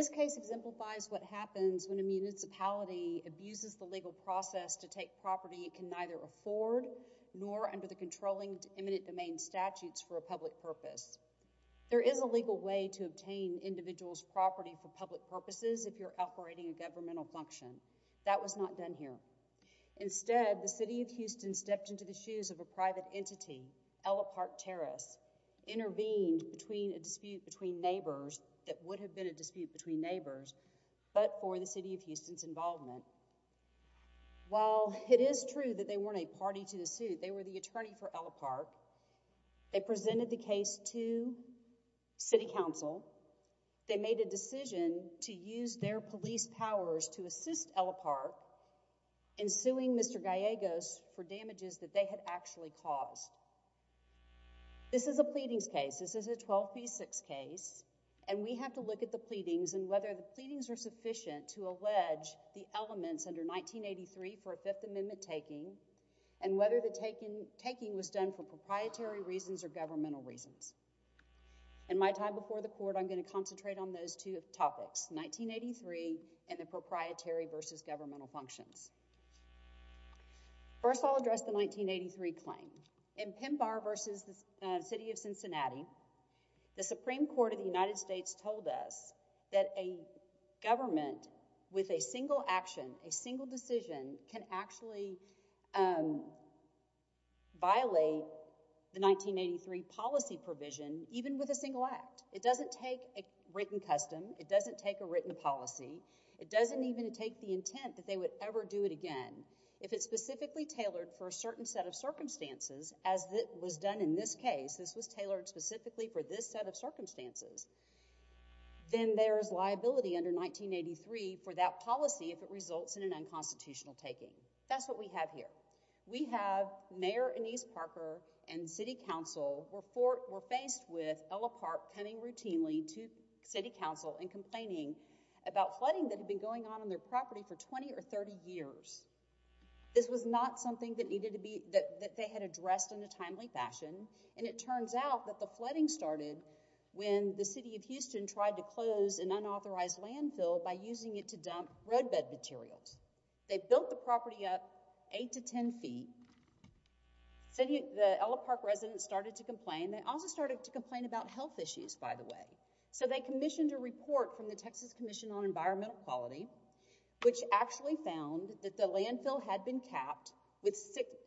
This case exemplifies what happens when a municipality abuses the legal process to take property it can neither afford, nor under the controlling eminent domain statutes, for a public purpose. There is a legal way to obtain individuals' property for public purposes if you're operating a governmental function. That was not done here. Instead, the City of Houston stepped into the shoes of a private entity, Ella Park Terrace, and intervened in a dispute between neighbors that would have been a dispute between neighbors but for the City of Houston's involvement. While it is true that they weren't a party to the suit, they were the attorney for Ella Park. They presented the case to City Council. They made a decision to use their police powers to assist Ella Park in suing Mr. Gallegos for damages that they had actually caused. This is a pleadings case. This is a 12 v. 6 case. We have to look at the pleadings and whether the pleadings are sufficient to allege the elements under 1983 for a Fifth Amendment taking and whether the taking was done for proprietary reasons or governmental reasons. In my time before the court, I'm going to concentrate on those two topics, 1983 and the proprietary versus governmental functions. First, I'll address the 1983 claim. In Pembar v. the City of Cincinnati, the Supreme Court of the United States told us that a government with a single action, a single decision, can actually violate the 1983 policy provision even with a single act. It doesn't take a written custom. It doesn't take a written policy. It doesn't even take the intent that they would ever do it again. If it's specifically tailored for a certain set of circumstances as it was done in this case, this was tailored specifically for this set of circumstances, then there's liability under 1983 for that policy if it results in an unconstitutional taking. That's what we have here. We have Mayor Annise Parker and City Council were faced with Ella Park coming routinely to City Council and complaining about flooding that had been going on on their property for 20 or 30 years. This was not something that they had addressed in a timely fashion. It turns out that the flooding started when the City of Houston tried to close an unauthorized landfill by using it to dump roadbed materials. They built the property up 8 to 10 feet. The Ella Park residents started to complain. They also started to complain about health issues, by the way. They commissioned a report from the Texas Commission on Environmental Quality, which actually found that the landfill had been capped with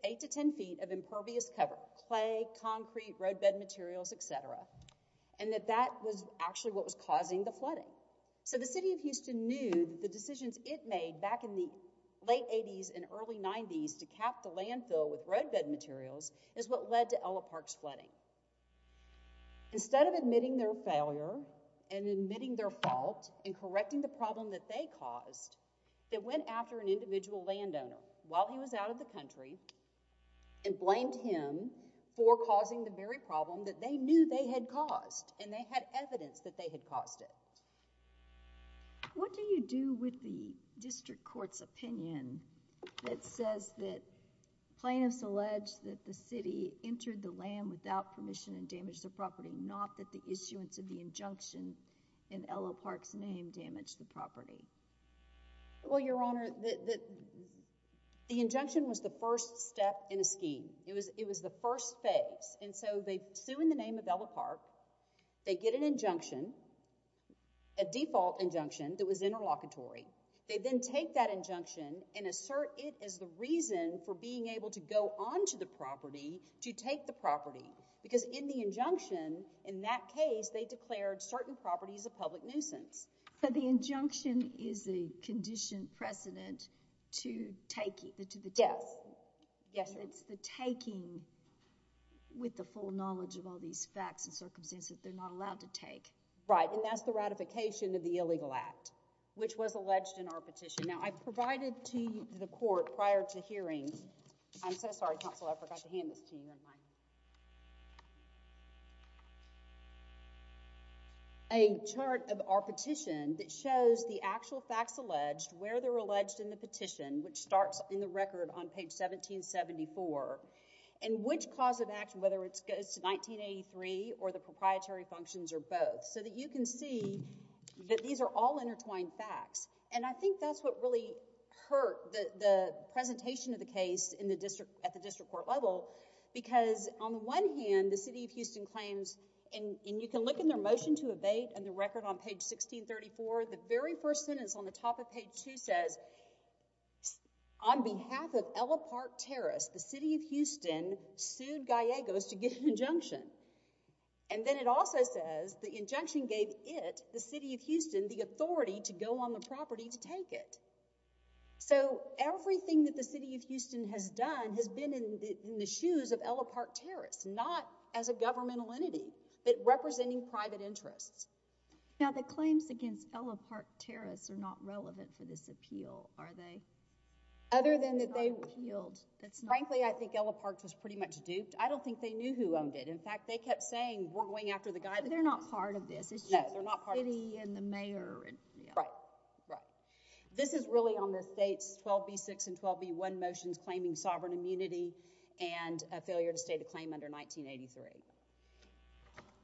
8 to 10 feet of impervious cover, clay, concrete, roadbed materials, et cetera, and that that was actually what was causing the flooding. The City of Houston knew that the decisions it made back in the late 80s and early 90s to cap the landfill with roadbed materials is what led to Ella Park's flooding. Instead of admitting their failure and admitting their fault and correcting the problem that they caused, they went after an individual landowner while he was out of the country and blamed him for causing the very problem that they knew they had caused and they had evidence that they had caused it. What do you do with the district court's opinion that says that plaintiffs allege that the city entered the land without permission and damaged the property, not that the issuance of the injunction in Ella Park's name damaged the property? Well, Your Honor, the injunction was the first step in a scheme. It was the first phase. And so they sue in the name of Ella Park. They get an injunction, a default injunction that was interlocutory. They then take that injunction and assert it as the reason for being able to go onto the property to take the property because in the injunction, in that case, they declared certain properties a public nuisance. So the injunction is a conditioned precedent to take it, to the death? Yes. It's the taking with the full knowledge of all these facts and circumstances that they're not allowed to take. Right. And that's the ratification of the illegal act, which was alleged in our petition. Now, I provided to the court prior to hearing, I'm so sorry, counsel, I forgot to hand this to you, never mind, a chart of our petition that shows the actual facts alleged, where they're alleged in the petition, which starts in the record on page 1774, and which cause of action, whether it goes to 1983 or the proprietary functions or both, so that you can see that these are all intertwined facts. And I think that's what really hurt the presentation of the case at the district court level because on the one hand, the city of Houston claims, and you can look in their motion to abate and the record on page 1634, the very first sentence on the top of page two says, on behalf of Ella Park Terrace, the city of Houston sued Gallegos to get an injunction. And then it also says the injunction gave it, the city of Houston, the authority to go on the property to take it. So everything that the city of Houston has done has been in the shoes of Ella Park Terrace, not as a governmental entity, but representing private interests. Now the claims against Ella Park Terrace are not relevant for this appeal, are they? Other than that they— Frankly, I think Ella Park was pretty much duped. I don't think they knew who owned it. In fact, they kept saying, we're going after the guy that owns it. They're not part of this. No, they're not part of this. It's just the city and the mayor and— Right, right. This is really on the state's 12b6 and 12b1 motions claiming sovereign immunity and a failure to state a claim under 1983.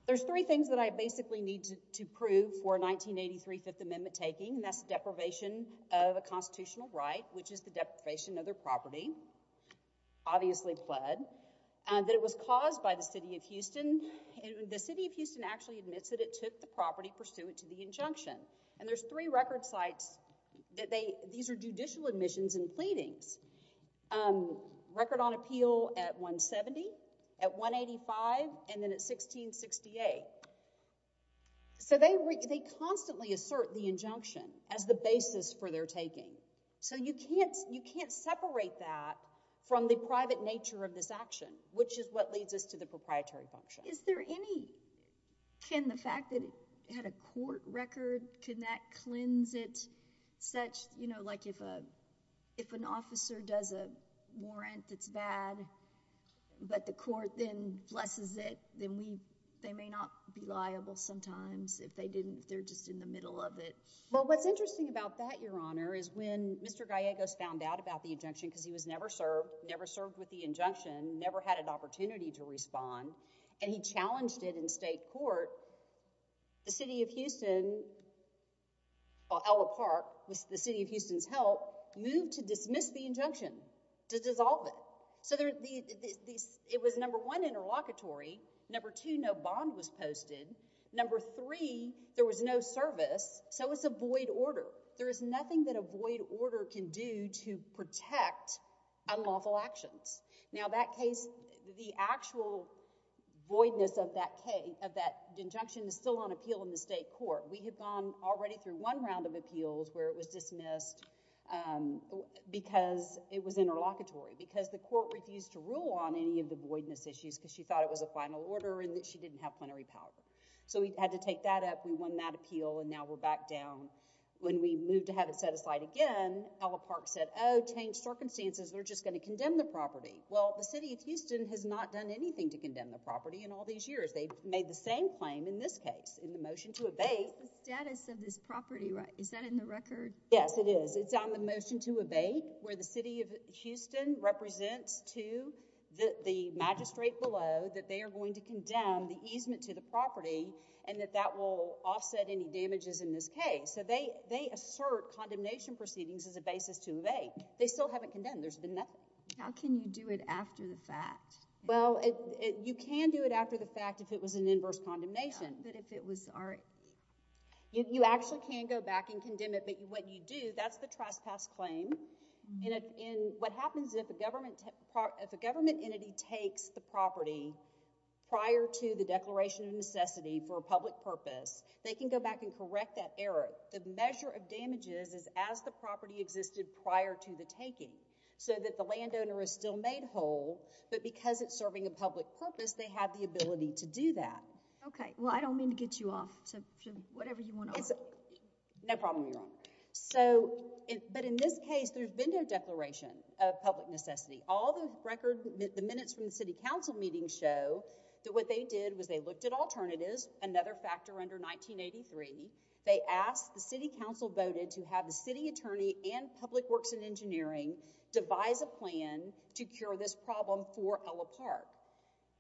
There's three things that I basically need to prove for 1983 Fifth Amendment taking, and that's deprivation of a constitutional right, which is the deprivation of their property, obviously pled, that it was caused by the city of Houston. The city of Houston actually admits that it took the property pursuant to the injunction. And there's three record sites that they— These are judicial admissions and pleadings. Record on appeal at 170, at 185, and then at 1668. So they constantly assert the injunction as the basis for their taking. So you can't separate that from the private nature of this action, which is what leads us to the proprietary function. Is there any— Can the fact that it had a court record, could that cleanse it such, you know, like if an officer does a warrant that's bad, but the court then blesses it, then we— They may not be liable sometimes if they didn't— They're just in the middle of it. Well, what's interesting about that, Your Honor, is when Mr. Gallegos found out about the injunction, because he was never served, never served with the injunction, never had an opportunity to respond, and he challenged it in state court, the city of Houston— the city of Houston's help moved to dismiss the injunction, to dissolve it. So it was, number one, interlocutory, number two, no bond was posted, number three, there was no service, so it's a void order. There is nothing that a void order can do to protect unlawful actions. Now that case, the actual voidness of that injunction is still on appeal in the state court. We have gone already through one round of appeals where it was dismissed because it was interlocutory, because the court refused to rule on any of the voidness issues because she thought it was a final order and that she didn't have plenary power. So we had to take that up, we won that appeal, and now we're back down. When we moved to have it set aside again, Ella Park said, oh, change circumstances, they're just going to condemn the property. Well, the city of Houston has not done anything to condemn the property in all these years. They've made the same claim in this case, in the motion to abate. It's the status of this property, right? Is that in the record? Yes, it is. It's on the motion to abate where the city of Houston represents to the magistrate below that they are going to condemn the easement to the property and that that will offset any damages in this case. So they assert condemnation proceedings as a basis to abate. They still haven't condemned. There's been nothing. How can you do it after the fact? Well, you can do it after the fact if it was an inverse condemnation. But if it was, all right. You actually can go back and condemn it, but what you do, that's the trespass claim. What happens is if a government entity takes the property prior to the declaration of necessity for a public purpose, they can go back and correct that error. The measure of damages is as the property existed prior to the taking. So that the landowner is still made whole, but because it's serving a public purpose, they have the ability to do that. Okay. Well, I don't mean to get you off. So, whatever you want to offer. No problem, Your Honor. So, but in this case, there's been no declaration of public necessity. All the record, the minutes from the city council meeting show that what they did was they looked at alternatives, another factor under 1983. They asked, the city council voted to have the city attorney and public works and engineering devise a plan to cure this problem for Ella Park.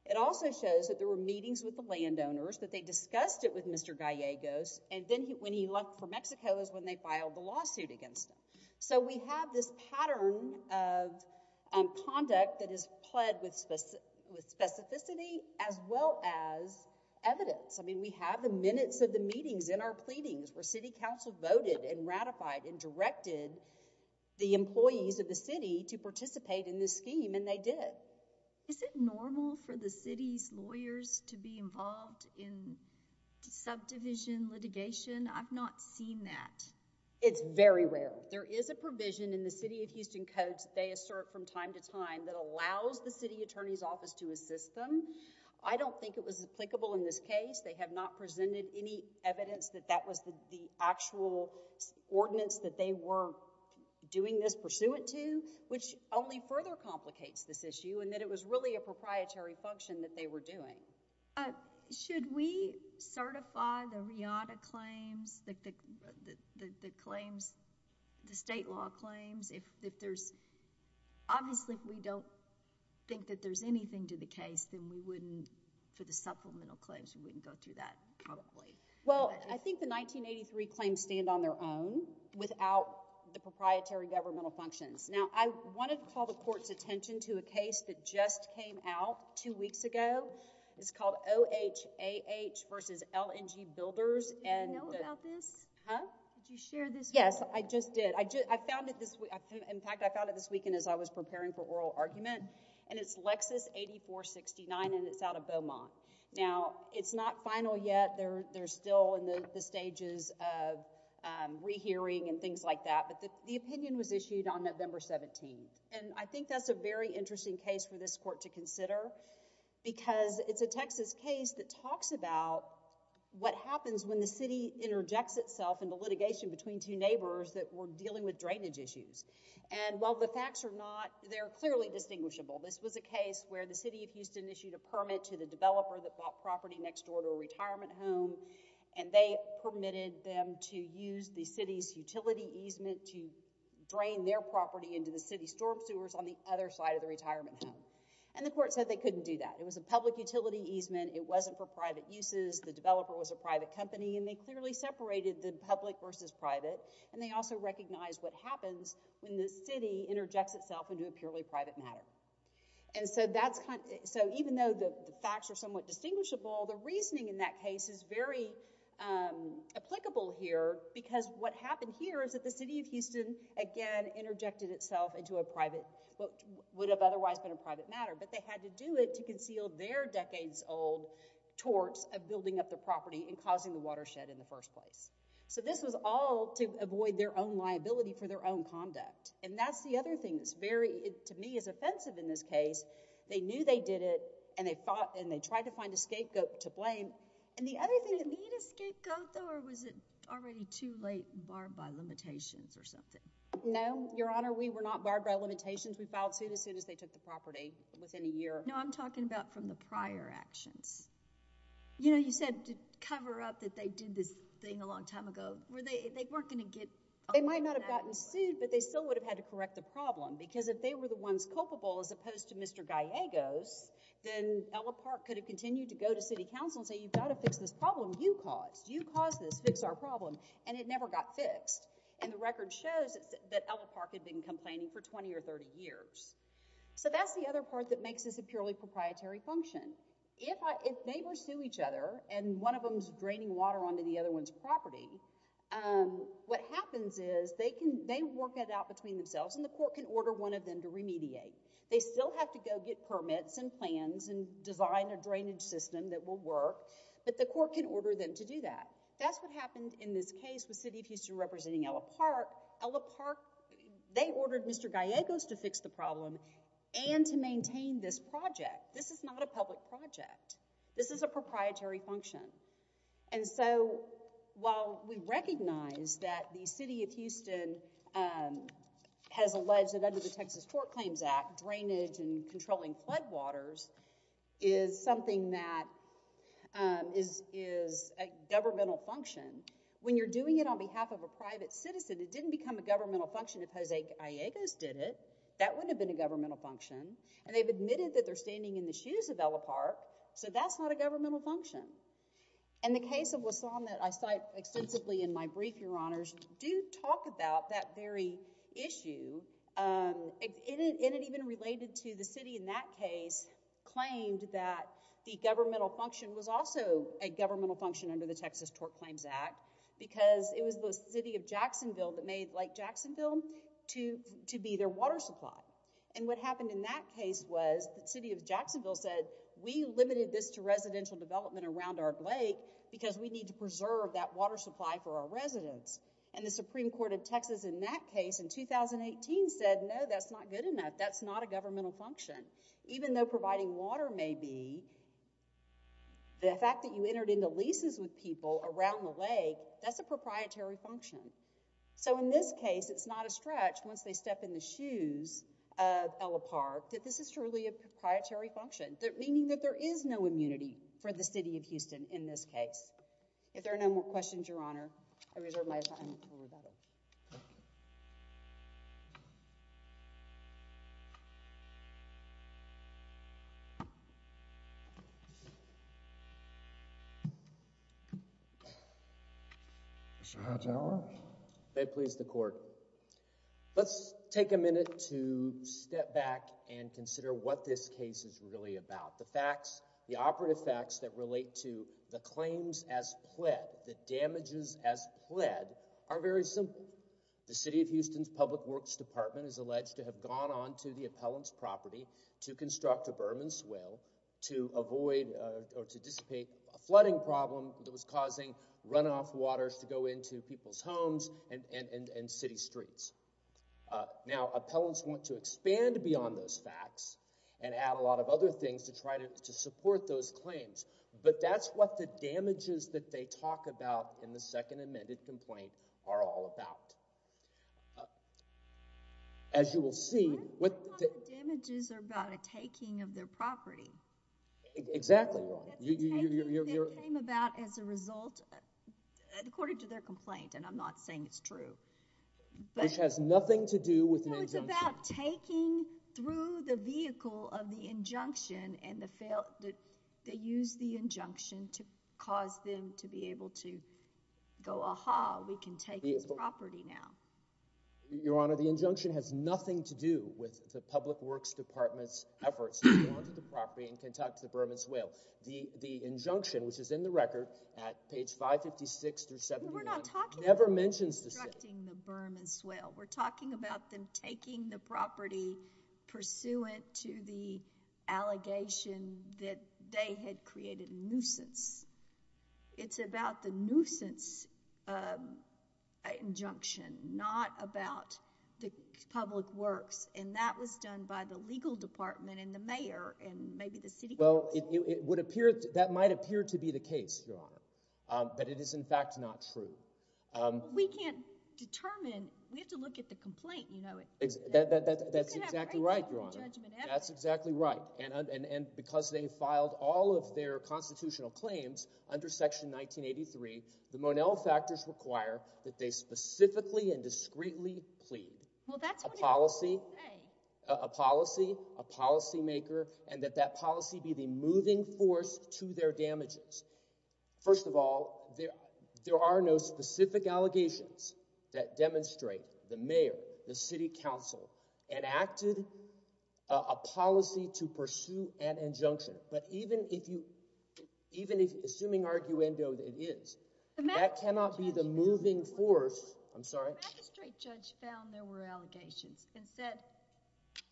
It also shows that there were meetings with the landowners, that they discussed it with Mr. Gallegos, and then when he left for Mexico is when they filed the lawsuit against him. So we have this pattern of conduct that is pled with specificity as well as evidence. I mean, we have the minutes of the meetings in our pleadings where city council voted and ratified and directed the employees of the city to participate in this scheme, and they did. Is it normal for the city's lawyers to be involved in subdivision litigation? I've not seen that. It's very rare. There is a provision in the city of Houston codes they assert from time to time that allows the city attorney's office to assist them. I don't think it was applicable in this case. They have not presented any evidence that that was the actual ordinance that they were doing this pursuant to, which only further complicates this issue, and that it was really a proprietary function that they were doing. Should we certify the RIATA claims, the state law claims? If there's... Obviously, if we don't think that there's anything to the case, then we wouldn't, for the supplemental claims, we wouldn't go through that probably. Well, I think the 1983 claims stand on their own without the proprietary governmental functions. Now, I wanted to call the court's attention to a case that just came out two weeks ago. It's called OHAH versus LNG Builders. Do you know about this? Huh? Did you share this? Yes, I just did. I found it this... In fact, I found it this weekend as I was preparing for oral argument, and it's Lexis 8469, and it's out of Beaumont. Now, it's not final yet. They're still in the stages of rehearing and things like that, but the opinion was issued on November 17th, and I think that's a very interesting case for this court to consider because it's a Texas case that talks about what happens when the city interjects in the litigation between two neighbors that were dealing with drainage issues. While the facts are not, they're clearly distinguishable. This was a case where the city of Houston issued a permit to the developer that bought property next door to a retirement home, and they permitted them to use the city's utility easement to drain their property into the city's storm sewers on the other side of the retirement home, and the court said they couldn't do that. It was a public utility easement. It wasn't for private uses. The developer was a private company, and they clearly separated the public versus private, and they also recognized what happens when the city interjects itself into a purely private matter, and so even though the facts are somewhat distinguishable, the reasoning in that case is very applicable here because what happened here is that the city of Houston, again, interjected itself into what would have otherwise been a private matter, but they had to do it to causing the watershed in the first place, so this was all to avoid their own liability for their own conduct, and that's the other thing that's very, to me, is offensive in this case. They knew they did it, and they fought, and they tried to find a scapegoat to blame, and the other thing... Did they need a scapegoat, though, or was it already too late, barred by limitations or something? No, Your Honor. We were not barred by limitations. We filed suit as soon as they took the property, within a year. No, I'm talking about from the prior actions. You know, you said to cover up that they did this thing a long time ago. Were they, they weren't going to get... They might not have gotten sued, but they still would have had to correct the problem because if they were the ones culpable as opposed to Mr. Gallegos, then Ella Park could have continued to go to city council and say, you've got to fix this problem you caused. You caused this. Fix our problem, and it never got fixed, and the record shows that Ella Park had been complaining for 20 or 30 years, so that's the other part that makes this a purely proprietary function. If neighbors sue each other, and one of them is draining water onto the other one's property, what happens is they work it out between themselves, and the court can order one of them to remediate. They still have to go get permits and plans and design a drainage system that will work, but the court can order them to do that. That's what happened in this case with City of Houston representing Ella Park. Ella Park, they ordered Mr. Gallegos to fix the problem and to maintain this project. This is not a public project. This is a proprietary function, and so while we recognize that the City of Houston has alleged that under the Texas Court Claims Act, drainage and controlling floodwaters is something that is a governmental function, when you're doing it on behalf of a private citizen, it didn't become a governmental function if Jose Gallegos did it. That wouldn't have been a governmental function, and they've admitted that they're standing in the shoes of Ella Park, so that's not a governmental function. In the case of Wasson that I cite extensively in my brief, Your Honors, do talk about that very issue, and it even related to the city in that case claimed that the governmental function was also a governmental function under the Texas Court Claims Act because it was the City of Jacksonville that made Lake Jacksonville to be their water supply, and what happened in that case was the City of Jacksonville said, we limited this to residential development around our lake because we need to preserve that water supply for our residents, and the Supreme Court of Texas in that case in 2018 said, no, that's not good enough. That's not a governmental function. Even though providing water may be, the fact that you entered into leases with people around the lake, that's a proprietary function. So, in this case, it's not a stretch once they step in the shoes of Ella Park that this is truly a proprietary function, meaning that there is no immunity for the City of Houston in this case. If there are no more questions, Your Honor, I reserve my time for rebuttal. Mr. Hightower. May it please the Court. Let's take a minute to step back and consider what this case is really about. The facts, the operative facts that relate to the claims as pled, the damages as pled are very simple. The City of Houston's Public Works Department is alleged to have gone on to the appellant's property to construct a bourbon swale to avoid or to dissipate a flooding problem that was causing runoff waters to go into people's homes and city streets. Now, appellants want to expand beyond those facts and add a lot of other things to try to support those claims, but that's what the damages that they talk about in the second amendment complaint are all about. As you will see— What if the damages are about a taking of their property? Exactly, Your Honor. That's a taking that came about as a result, according to their complaint, and I'm not saying it's true, but— Which has nothing to do with an injunction. No, it's about taking through the vehicle of the injunction and the fail—they use the injunction to cause them to be able to go, ah-ha, we can take this property now. Your Honor, the injunction has nothing to do with the Public Works Department's efforts to go on to the property and conduct the bourbon swale. The injunction, which is in the record at page 556 through 75— We're not talking about— Never mentions the— Constructing the bourbon swale. We're talking about them taking the property pursuant to the allegation that they had created a nuisance. It's about the nuisance injunction, not about the public works, and that was done by the legal department and the mayor and maybe the city council. Well, it would appear—that might appear to be the case, Your Honor, but it is, in fact, not true. We can't determine—we have to look at the complaint, you know. That's exactly right, Your Honor. That's exactly right, and because they filed all of their constitutional claims under Section 1983, the Monel Factors require that they specifically and discreetly plead a policy, a policymaker, and that that policy be the moving force to their damages. First of all, there are no specific allegations that demonstrate the mayor, the city council enacted a policy to pursue an injunction, but even if you—even if—assuming arguendo it is, that cannot be the moving force—I'm sorry? The magistrate judge found there were allegations and said—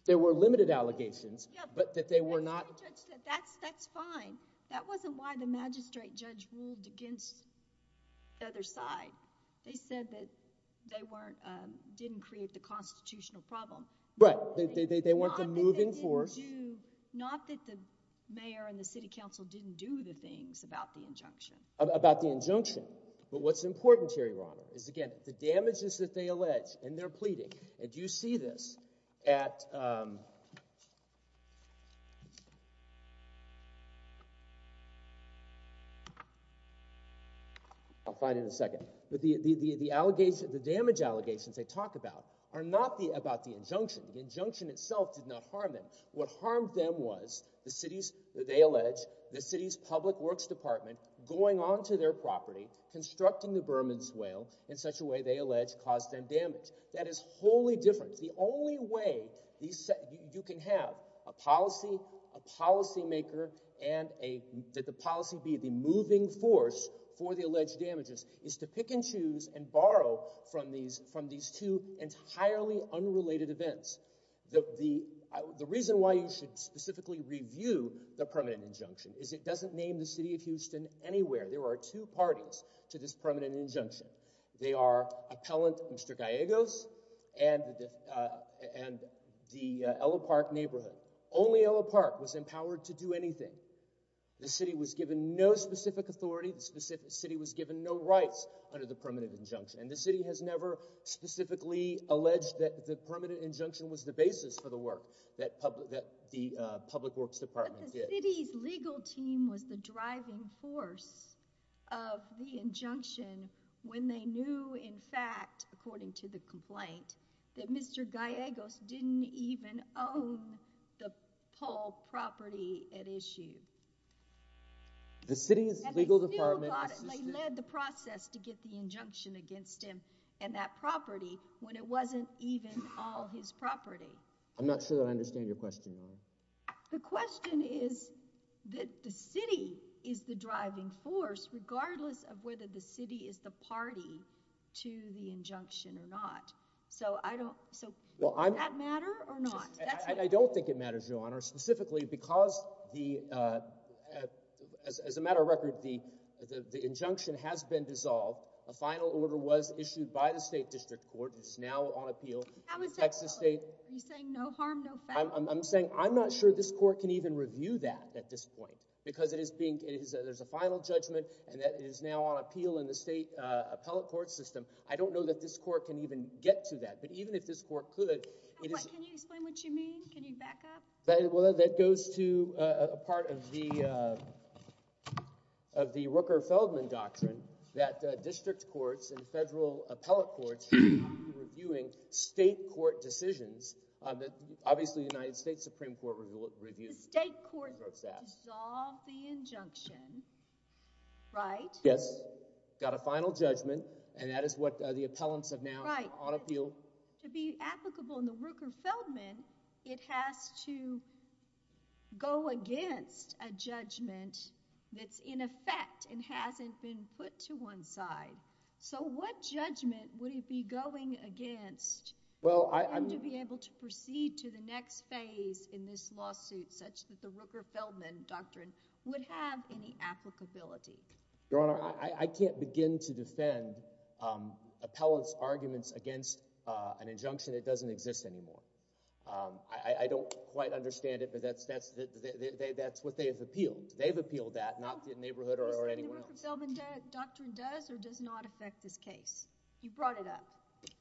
There were limited allegations, but that they were not— The magistrate judge said, that's fine. That wasn't why the magistrate judge ruled against the other side. They said that they weren't—didn't create the constitutional problem. Right, they weren't the moving force. Not that the mayor and the city council didn't do the things about the injunction. About the injunction, but what's important here, Your Honor, is, again, the damages that they allege and they're pleading, and you see this at—I'll find it in a second. The damage allegations they talk about are not about the injunction. The injunction itself did not harm them. What harmed them was the city's—they allege—the city's public works department going onto their property, constructing the Berman's Whale in such a way they allege caused them damage. That is wholly different. The only way you can have a policy, a policymaker, and a—that the policy be the moving force for the alleged damages is to pick and choose and borrow from these two entirely unrelated events. The reason why you should specifically review the permanent injunction is it doesn't name the city of Houston anywhere. There are two parties to this permanent injunction. They are appellant Mr. Gallegos and the Ella Park neighborhood. Only Ella Park was empowered to do anything. The city was given no specific authority. The specific city was given no rights under the permanent injunction, and the city has never specifically alleged that the permanent injunction was the basis for the work that public—that the public works department did. But the city's legal team was the driving force of the injunction when they knew, in fact, according to the complaint, that Mr. Gallegos didn't even own the pole property at issue. The city's legal department— They led the process to get the injunction against him and that property when it wasn't even all his property. I'm not sure that I understand your question. The question is that the city is the driving force regardless of whether the city is the party to the injunction or not. So I don't—so does that matter or not? I don't think it matters, Your Honor. Specifically because the—as a matter of record, the injunction has been dissolved. A final order was issued by the state district court. It's now on appeal in Texas state— Are you saying no harm, no foul? I'm saying I'm not sure this court can even review that at this point because it is being—there's a final judgment and that is now on appeal in the state appellate court system. I don't know that this court can even get to that. But even if this court could— Can you explain what you mean? Can you back up? That goes to a part of the Rooker-Feldman doctrine that district courts and federal appellate courts should not be reviewing state court decisions. Obviously, the United States Supreme Court reviewed the process. The state court dissolved the injunction, right? Yes. Got a final judgment and that is what the appellants have now on appeal. To be applicable in the Rooker-Feldman, it has to go against a judgment that's in effect and hasn't been put to one side. So, what judgment would it be going against? Well, I— And to be able to proceed to the next phase in this lawsuit such that the Rooker-Feldman doctrine would have any applicability? Your Honor, I can't begin to defend appellants' arguments against an injunction that doesn't exist anymore. I don't quite understand it, but that's what they have appealed. They've appealed that, not the neighborhood or anyone else. The Rooker-Feldman doctrine does or does not affect this case? You brought it up.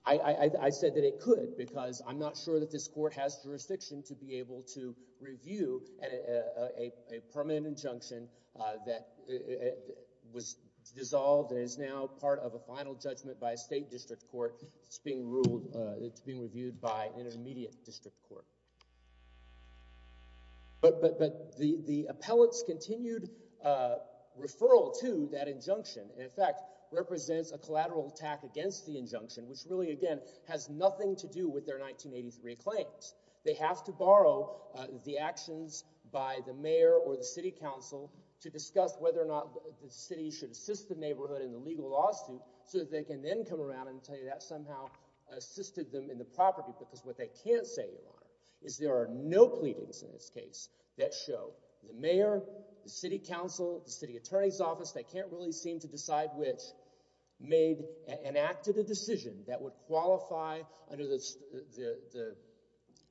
I said that it could because I'm not sure that this court has jurisdiction to be able to review a permanent injunction that was dissolved and is now part of a final judgment by a state district court. It's being ruled—it's being reviewed by an intermediate district court. But the appellant's continued referral to that injunction, in fact, represents a collateral attack against the injunction, which really, again, has nothing to do with their 1983 claims. They have to borrow the actions by the mayor or the city council to discuss whether or not the city should assist the neighborhood in the legal lawsuit so that they can then come around and tell you that somehow assisted them in the property. Because what they can't say, Your Honor, is there are no pleadings in this case that show the mayor, the city council, the city attorney's office—they can't really seem to decide which—made an act of the decision that would qualify under the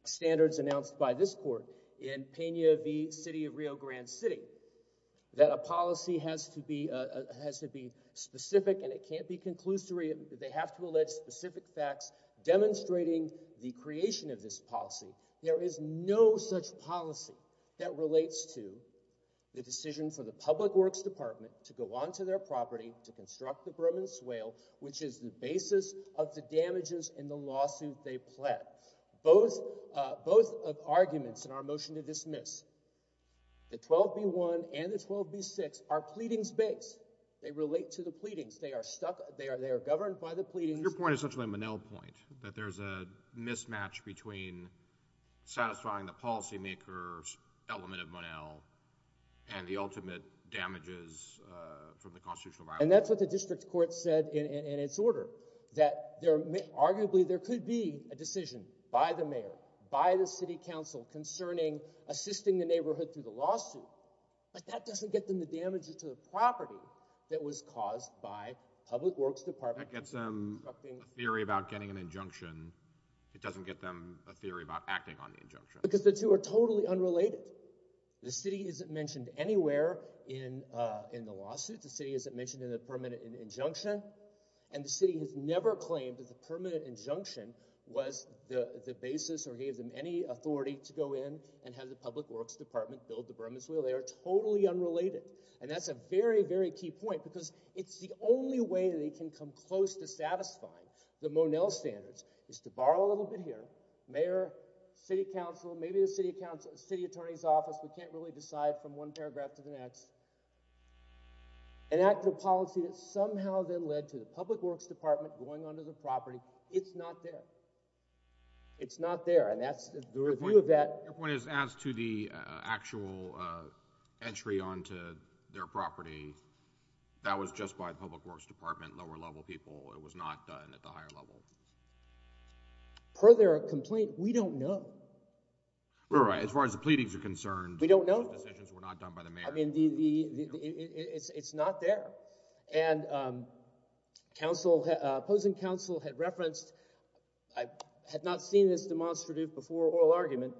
standards announced by this court in Pena v. City of Rio Grande City, that a policy has to be specific and it can't be conclusory. They have to allege specific facts demonstrating the creation of this policy. There is no such policy that relates to the decision for the Public Works Department to go on to their property to construct the Broman Swale, which is the basis of the damages in the lawsuit they pled. Both arguments in our motion to dismiss, the 12b-1 and the 12b-6, are pleadings-based. They relate to the pleadings. They are governed by the pleadings— Your point is essentially a Monell point, that there's a mismatch between satisfying the policymaker's element of Monell and the ultimate damages from the constitutional violation. And that's what the district court said in its order, that arguably there could be a decision by the mayor, by the city council, concerning assisting the neighborhood through the lawsuit, but that doesn't get them the damages to the property that was caused by Public Works Department— That gets them a theory about getting an injunction. It doesn't get them a theory about acting on the injunction. Because the two are totally unrelated. The city isn't mentioned anywhere in the lawsuit. The city isn't mentioned in the permanent injunction. And the city has never claimed that the permanent injunction was the basis or gave them any authority to go in and have the Public Works Department build the Broman Swale. They are totally unrelated. And that's a very, very key point, because it's the only way they can come close to maybe the city attorney's office. We can't really decide from one paragraph to the next. And that's the policy that somehow then led to the Public Works Department going onto the property. It's not there. It's not there. And that's the review of that— Your point is, as to the actual entry onto their property, that was just by the Public Works Department, lower-level people. It was not done at the higher level. Per their complaint, we don't know. We're right. As far as the pleadings are concerned— We don't know. —the decisions were not done by the mayor. I mean, it's not there. And opposing counsel had referenced—I had not seen this demonstrative before oral argument,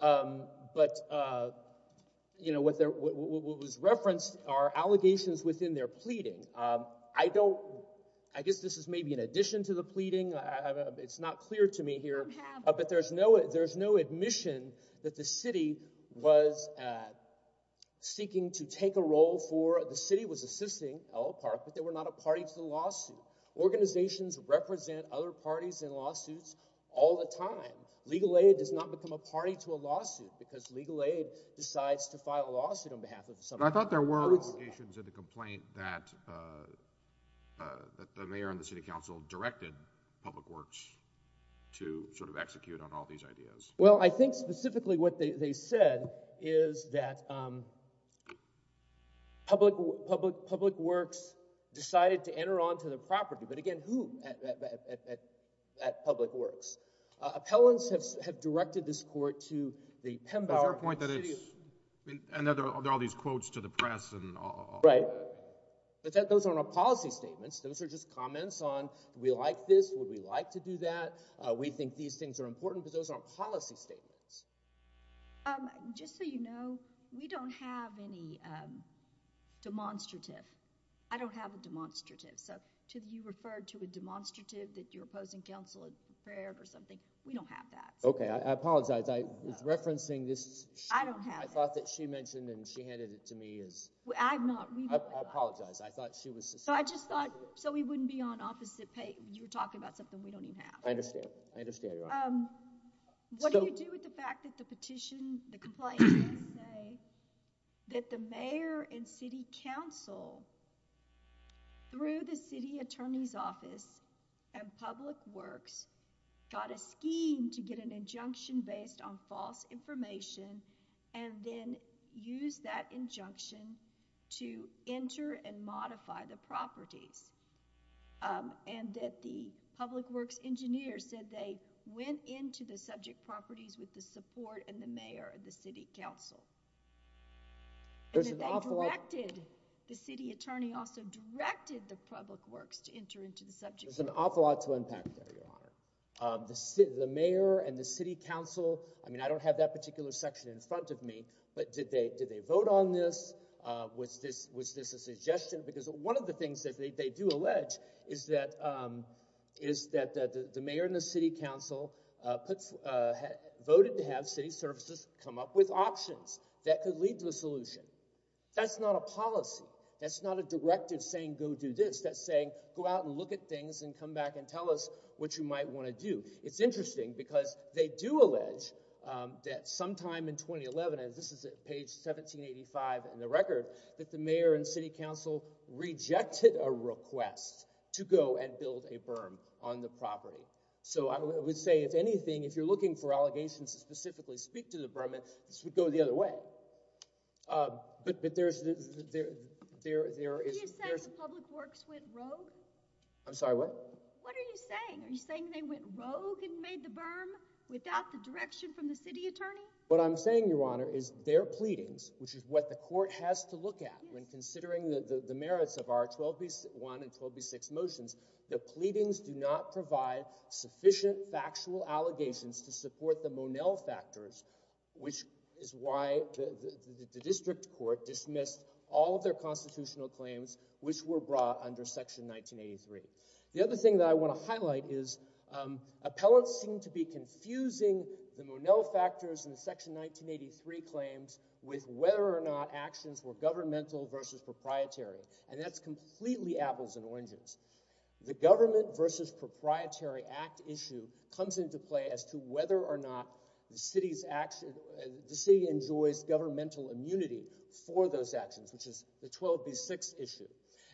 but what was referenced are allegations within their pleading. I don't—I guess this is maybe an addition to the pleading. It's not clear to me here. But there's no admission that the city was seeking to take a role for—the city was assisting Ella Park, but they were not a party to the lawsuit. Organizations represent other parties in lawsuits all the time. Legal aid does not become a party to a lawsuit because legal aid decides to file a lawsuit on behalf of somebody. I thought there were allegations in the complaint that the mayor and the city council directed Public Works to sort of execute on all these ideas. Well, I think specifically what they said is that Public Works decided to enter onto the property. But again, who at Public Works? Appellants have directed this court to the Pembroke— Is there a point that it's—and there are all these quotes to the press and all— Right. But those aren't policy statements. Those are just comments on, do we like this? Would we like to do that? We think these things are important, but those aren't policy statements. Just so you know, we don't have any demonstrative. I don't have a demonstrative. So, you referred to a demonstrative that you're opposing council and prayer or something. We don't have that. Okay. I apologize. I was referencing this. I don't have that. I thought that she mentioned and she handed it to me as— I'm not— I apologize. I thought she was— I just thought, so we wouldn't be on opposite page. You're talking about something we don't even have. I understand. I understand. What do you do with the fact that the petition, the complaint did say that the Mayor and City Council, through the City Attorney's Office and Public Works, got a scheme to get an injunction based on false information and then use that injunction to enter and modify the properties and that the Public Works engineer said they went into the subject properties with the support and the Mayor and the City Council. There's an awful lot— And that they directed, the City Attorney also directed the Public Works to enter into the subject— There's an awful lot to unpack there, Your Honor. The Mayor and the City Council, I mean, I don't have that particular section in front of me, but did they vote on this? Was this a suggestion? Because one of the things that they do allege is that the Mayor and the City Council voted to have city services come up with options that could lead to a solution. That's not a policy. That's not a directive saying, go do this. Go out and look at things and come back and tell us what you might want to do. It's interesting because they do allege that sometime in 2011, and this is at page 1785 in the record, that the Mayor and City Council rejected a request to go and build a berm on the property. So, I would say, if anything, if you're looking for allegations to specifically speak to the berm, this would go the other way. But there's— Are you saying the Public Works went rogue? I'm sorry, what? What are you saying? Are you saying they went rogue and made the berm without the direction from the City Attorney? What I'm saying, Your Honor, is their pleadings, which is what the Court has to look at when considering the merits of our 12B1 and 12B6 motions, the pleadings do not provide sufficient factual allegations to support the Monel factors, which is why the District Court dismissed all of their constitutional claims, which were brought under Section 1983. The other thing that I want to highlight is appellants seem to be confusing the Monel factors and Section 1983 claims with whether or not actions were governmental versus proprietary, and that's completely apples and oranges. The Government versus Proprietary Act issue comes into play as to whether or not the City enjoys governmental immunity for those actions, which is the 12B6 issue.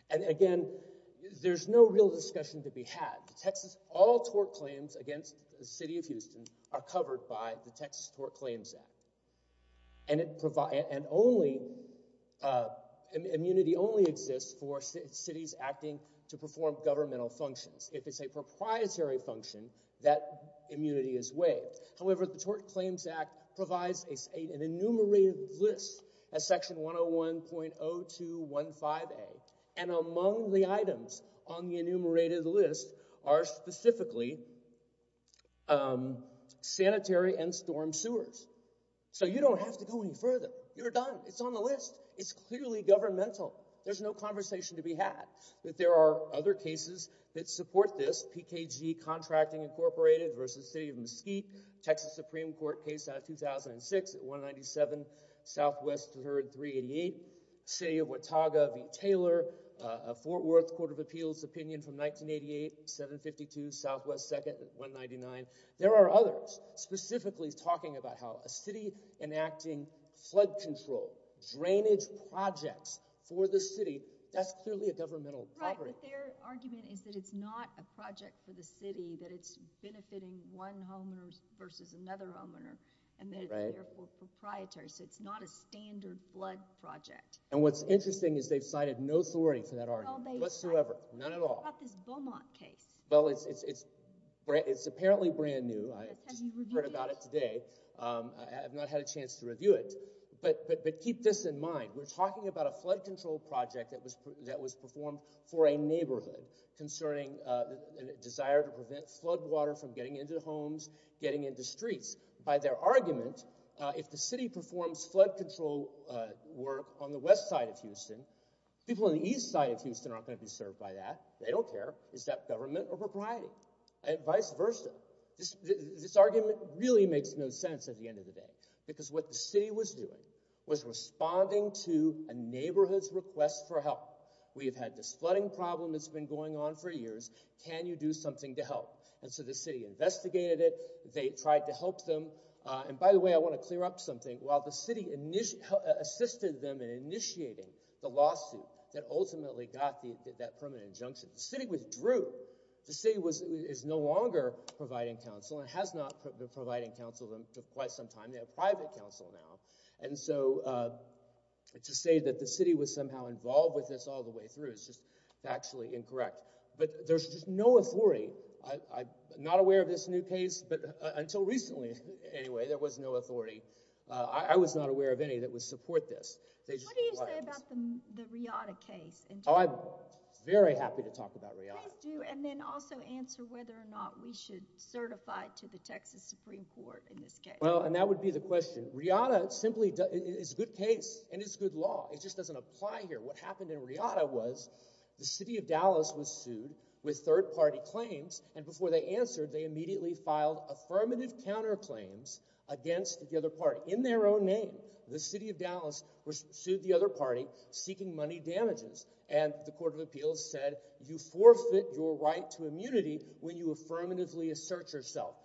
And again, there's no real discussion to be had. The Texas— All tort claims against the City of Houston are covered by the Texas Tort Claims Act. And it provides— And only— Immunity only exists for cities acting to perform governmental functions. If it's a proprietary function, that immunity is waived. However, the Tort Claims Act provides an enumerated list as Section 101.0215A, and among the items on the enumerated list are specifically sanitary and storm sewers. So you don't have to go any further. You're done. It's on the list. It's clearly governmental. There's no conversation to be had that there are other cases that support this. PKG Contracting Incorporated versus City of Mesquite, Texas Supreme Court case out of 2006 at 197, Southwest heard 388. City of Watauga v. Taylor, Fort Worth Court of Appeals opinion from 1988, 752, Southwest second at 199. There are others specifically talking about how a city enacting flood control, drainage projects for the city, that's clearly a governmental property. But their argument is that it's not a project for the city, that it's benefiting one homeowner versus another homeowner, and therefore proprietary. So it's not a standard flood project. And what's interesting is they've cited no authority for that argument whatsoever. None at all. What about this Beaumont case? Well, it's apparently brand new. I just heard about it today. I have not had a chance to review it. But keep this in mind. We're talking about a flood control project that was performed for a neighborhood concerning a desire to prevent flood water from getting into homes, getting into streets. By their argument, if the city performs flood control work on the west side of Houston, people on the east side of Houston aren't going to be served by that. They don't care. Is that government or propriety? Vice versa. This argument really makes no sense at the end of the day. Because what the city was doing was responding to a neighborhood's request for help. We've had this flooding problem that's been going on for years. Can you do something to help? And so the city investigated it. They tried to help them. And by the way, I want to clear up something. While the city assisted them in initiating the lawsuit that ultimately got that permanent injunction, the city withdrew. The city is no longer providing counsel and has not been providing counsel to them for quite some time. They have private counsel now. And so to say that the city was somehow involved with this all the way through is just actually incorrect. But there's just no authority. I'm not aware of this new case. But until recently, anyway, there was no authority. I was not aware of any that would support this. What do you say about the Riata case? I'm very happy to talk about Riata. Please do. And then also answer whether or not we should certify to the Texas Supreme Court in this case. And that would be the question. Riata simply is a good case and it's good law. It just doesn't apply here. What happened in Riata was the city of Dallas was sued with third-party claims. And before they answered, they immediately filed affirmative counterclaims against the other party in their own name. The city of Dallas sued the other party seeking money damages. And the Court of Appeals said, you forfeit your right to immunity when you affirmatively assert yourself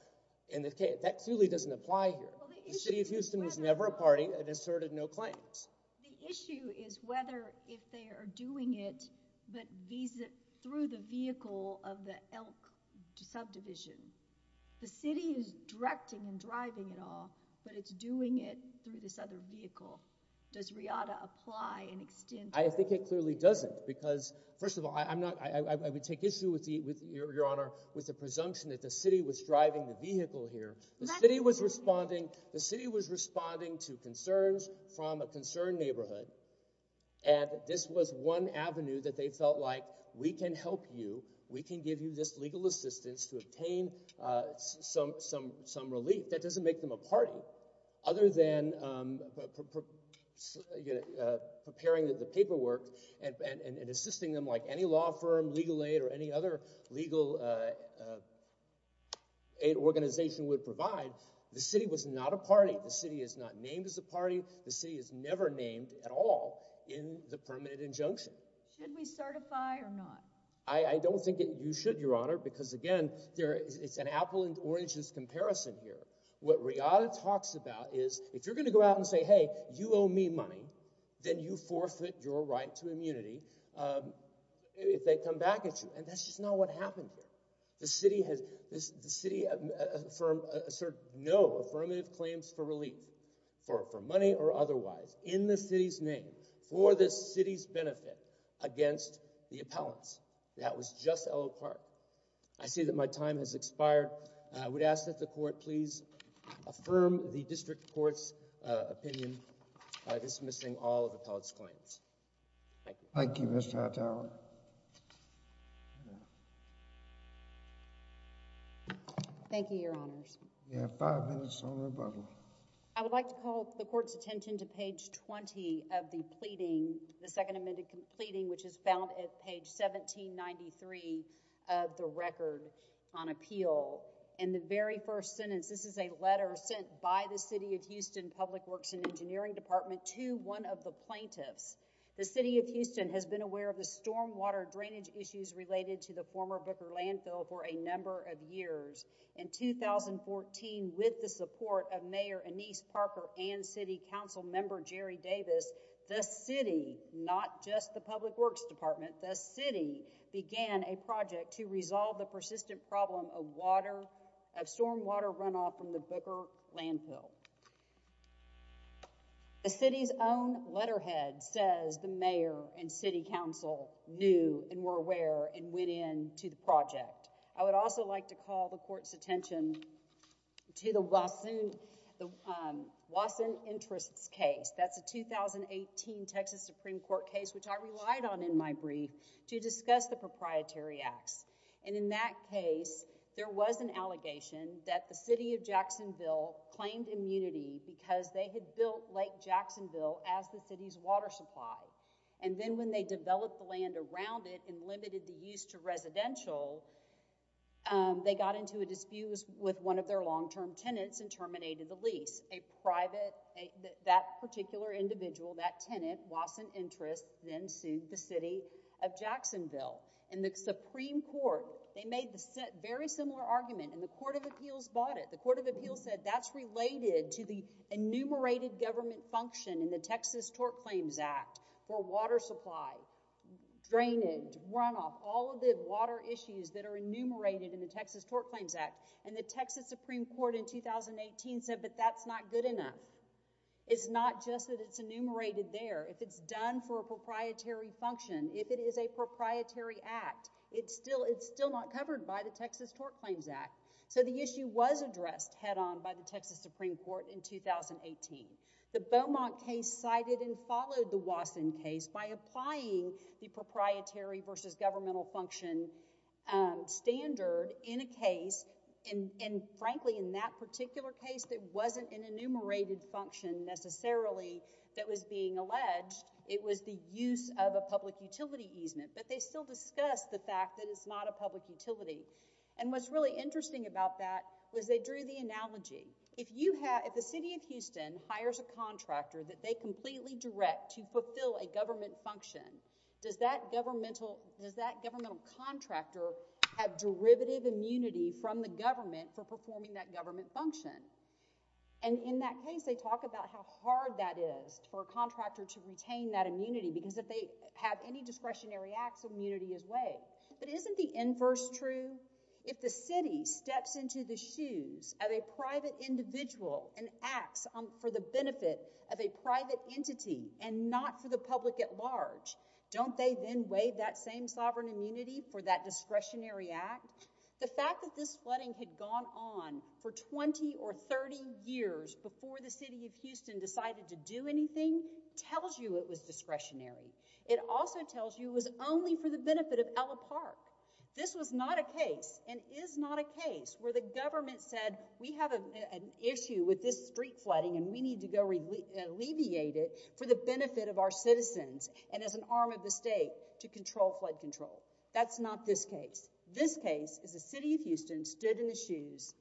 in the case. That clearly doesn't apply here. The city of Houston was never a party and asserted no claims. The issue is whether if they are doing it but through the vehicle of the elk subdivision. The city is directing and driving it all, but it's doing it through this other vehicle. Does Riata apply and extend? I think it clearly doesn't. Because first of all, I would take issue, Your Honor, with the presumption that the city was responding to concerns from a concerned neighborhood. And this was one avenue that they felt like, we can help you. We can give you this legal assistance to obtain some relief. That doesn't make them a party. Other than preparing the paperwork and assisting them like any law firm, legal aid, or any legal aid organization would provide, the city was not a party. The city is not named as a party. The city is never named at all in the permanent injunction. Should we certify or not? I don't think you should, Your Honor, because again, it's an apple and orange comparison here. What Riata talks about is, if you're going to go out and say, hey, you owe me money, then you forfeit your right to immunity if they come back at you. That's just not what happened here. The city asserted no affirmative claims for relief, for money or otherwise, in the city's name, for the city's benefit, against the appellants. That was just LO Park. I see that my time has expired. I would ask that the court please affirm the district court's opinion by dismissing all of the appellant's claims. Thank you. Thank you, Mr. Hattow. Thank you, Your Honors. You have five minutes on rebuttal. I would like to call the court's attention to page 20 of the pleading, the second amended pleading, which is found at page 1793 of the record on appeal. In the very first sentence, this is a letter sent by the city of Houston Public Works and Engineering Department to one of the plaintiffs. The city of Houston has been aware of the stormwater drainage issues related to the former Booker Landfill for a number of years. In 2014, with the support of Mayor Anise Parker and City Council Member Jerry Davis, the city, not just the Public Works Department, the city began a project to resolve the persistent problem of stormwater runoff from the Booker Landfill. The city's own letterhead says the mayor and city council knew and were aware and went in to the project. I would also like to call the court's attention to the Wasson Interests case. That's a 2018 Texas Supreme Court case which I relied on in my brief to discuss the proprietary acts. In that case, there was an allegation that the city of Jacksonville claimed immunity because they had built Lake Jacksonville as the city's water supply. Then when they developed the land around it and limited the use to residential, they got into a dispute with one of their long-term tenants and terminated the lease. That particular individual, that tenant, Wasson Interests, then sued the city of Jacksonville. The Supreme Court, they made a very similar argument and the Court of Appeals bought it. The Court of Appeals said that's related to the enumerated government function in the Texas Tort Claims Act for water supply, drainage, runoff, all of the water issues that are enumerated in the Texas Tort Claims Act. The Texas Supreme Court in 2018 said, but that's not good enough. It's not just that it's enumerated there. If it's done for a proprietary function, if it is a proprietary act, it's still not covered by the Texas Tort Claims Act. The issue was addressed head-on by the Texas Supreme Court in 2018. The Beaumont case cited and followed the Wasson case by applying the proprietary versus governmental function standard in a case, and frankly, in that particular case, that wasn't an enumerated function necessarily that was being alleged. It was the use of a public utility easement, but they still discussed the fact that it's not a public utility. What's really interesting about that was they drew the analogy. If the city of Houston hires a contractor that they completely direct to fulfill a government function, does that governmental contractor have derivative immunity from the government for performing that government function? In that case, they talk about how hard that is for a contractor to retain that immunity because if they have any discretionary acts, immunity is weighed. But isn't the inverse true? If the city steps into the shoes of a private individual and acts for the benefit of a private entity and not for the public at large, don't they then weigh that same sovereign immunity for that discretionary act? The fact that this flooding had gone on for 20 or 30 years before the city of Houston decided to do anything tells you it was discretionary. It also tells you it was only for the benefit of Ella Park. This was not a case and is not a case where the government said, we have an issue with this street flooding and we need to go alleviate it for the benefit of our citizens and as an arm of the state to control flood control. That's not this case. This case is the city of Houston stood in the shoes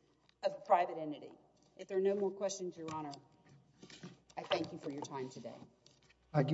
of a private entity. If there are no more questions, Your Honor, I thank you for your time today. Thank you very much.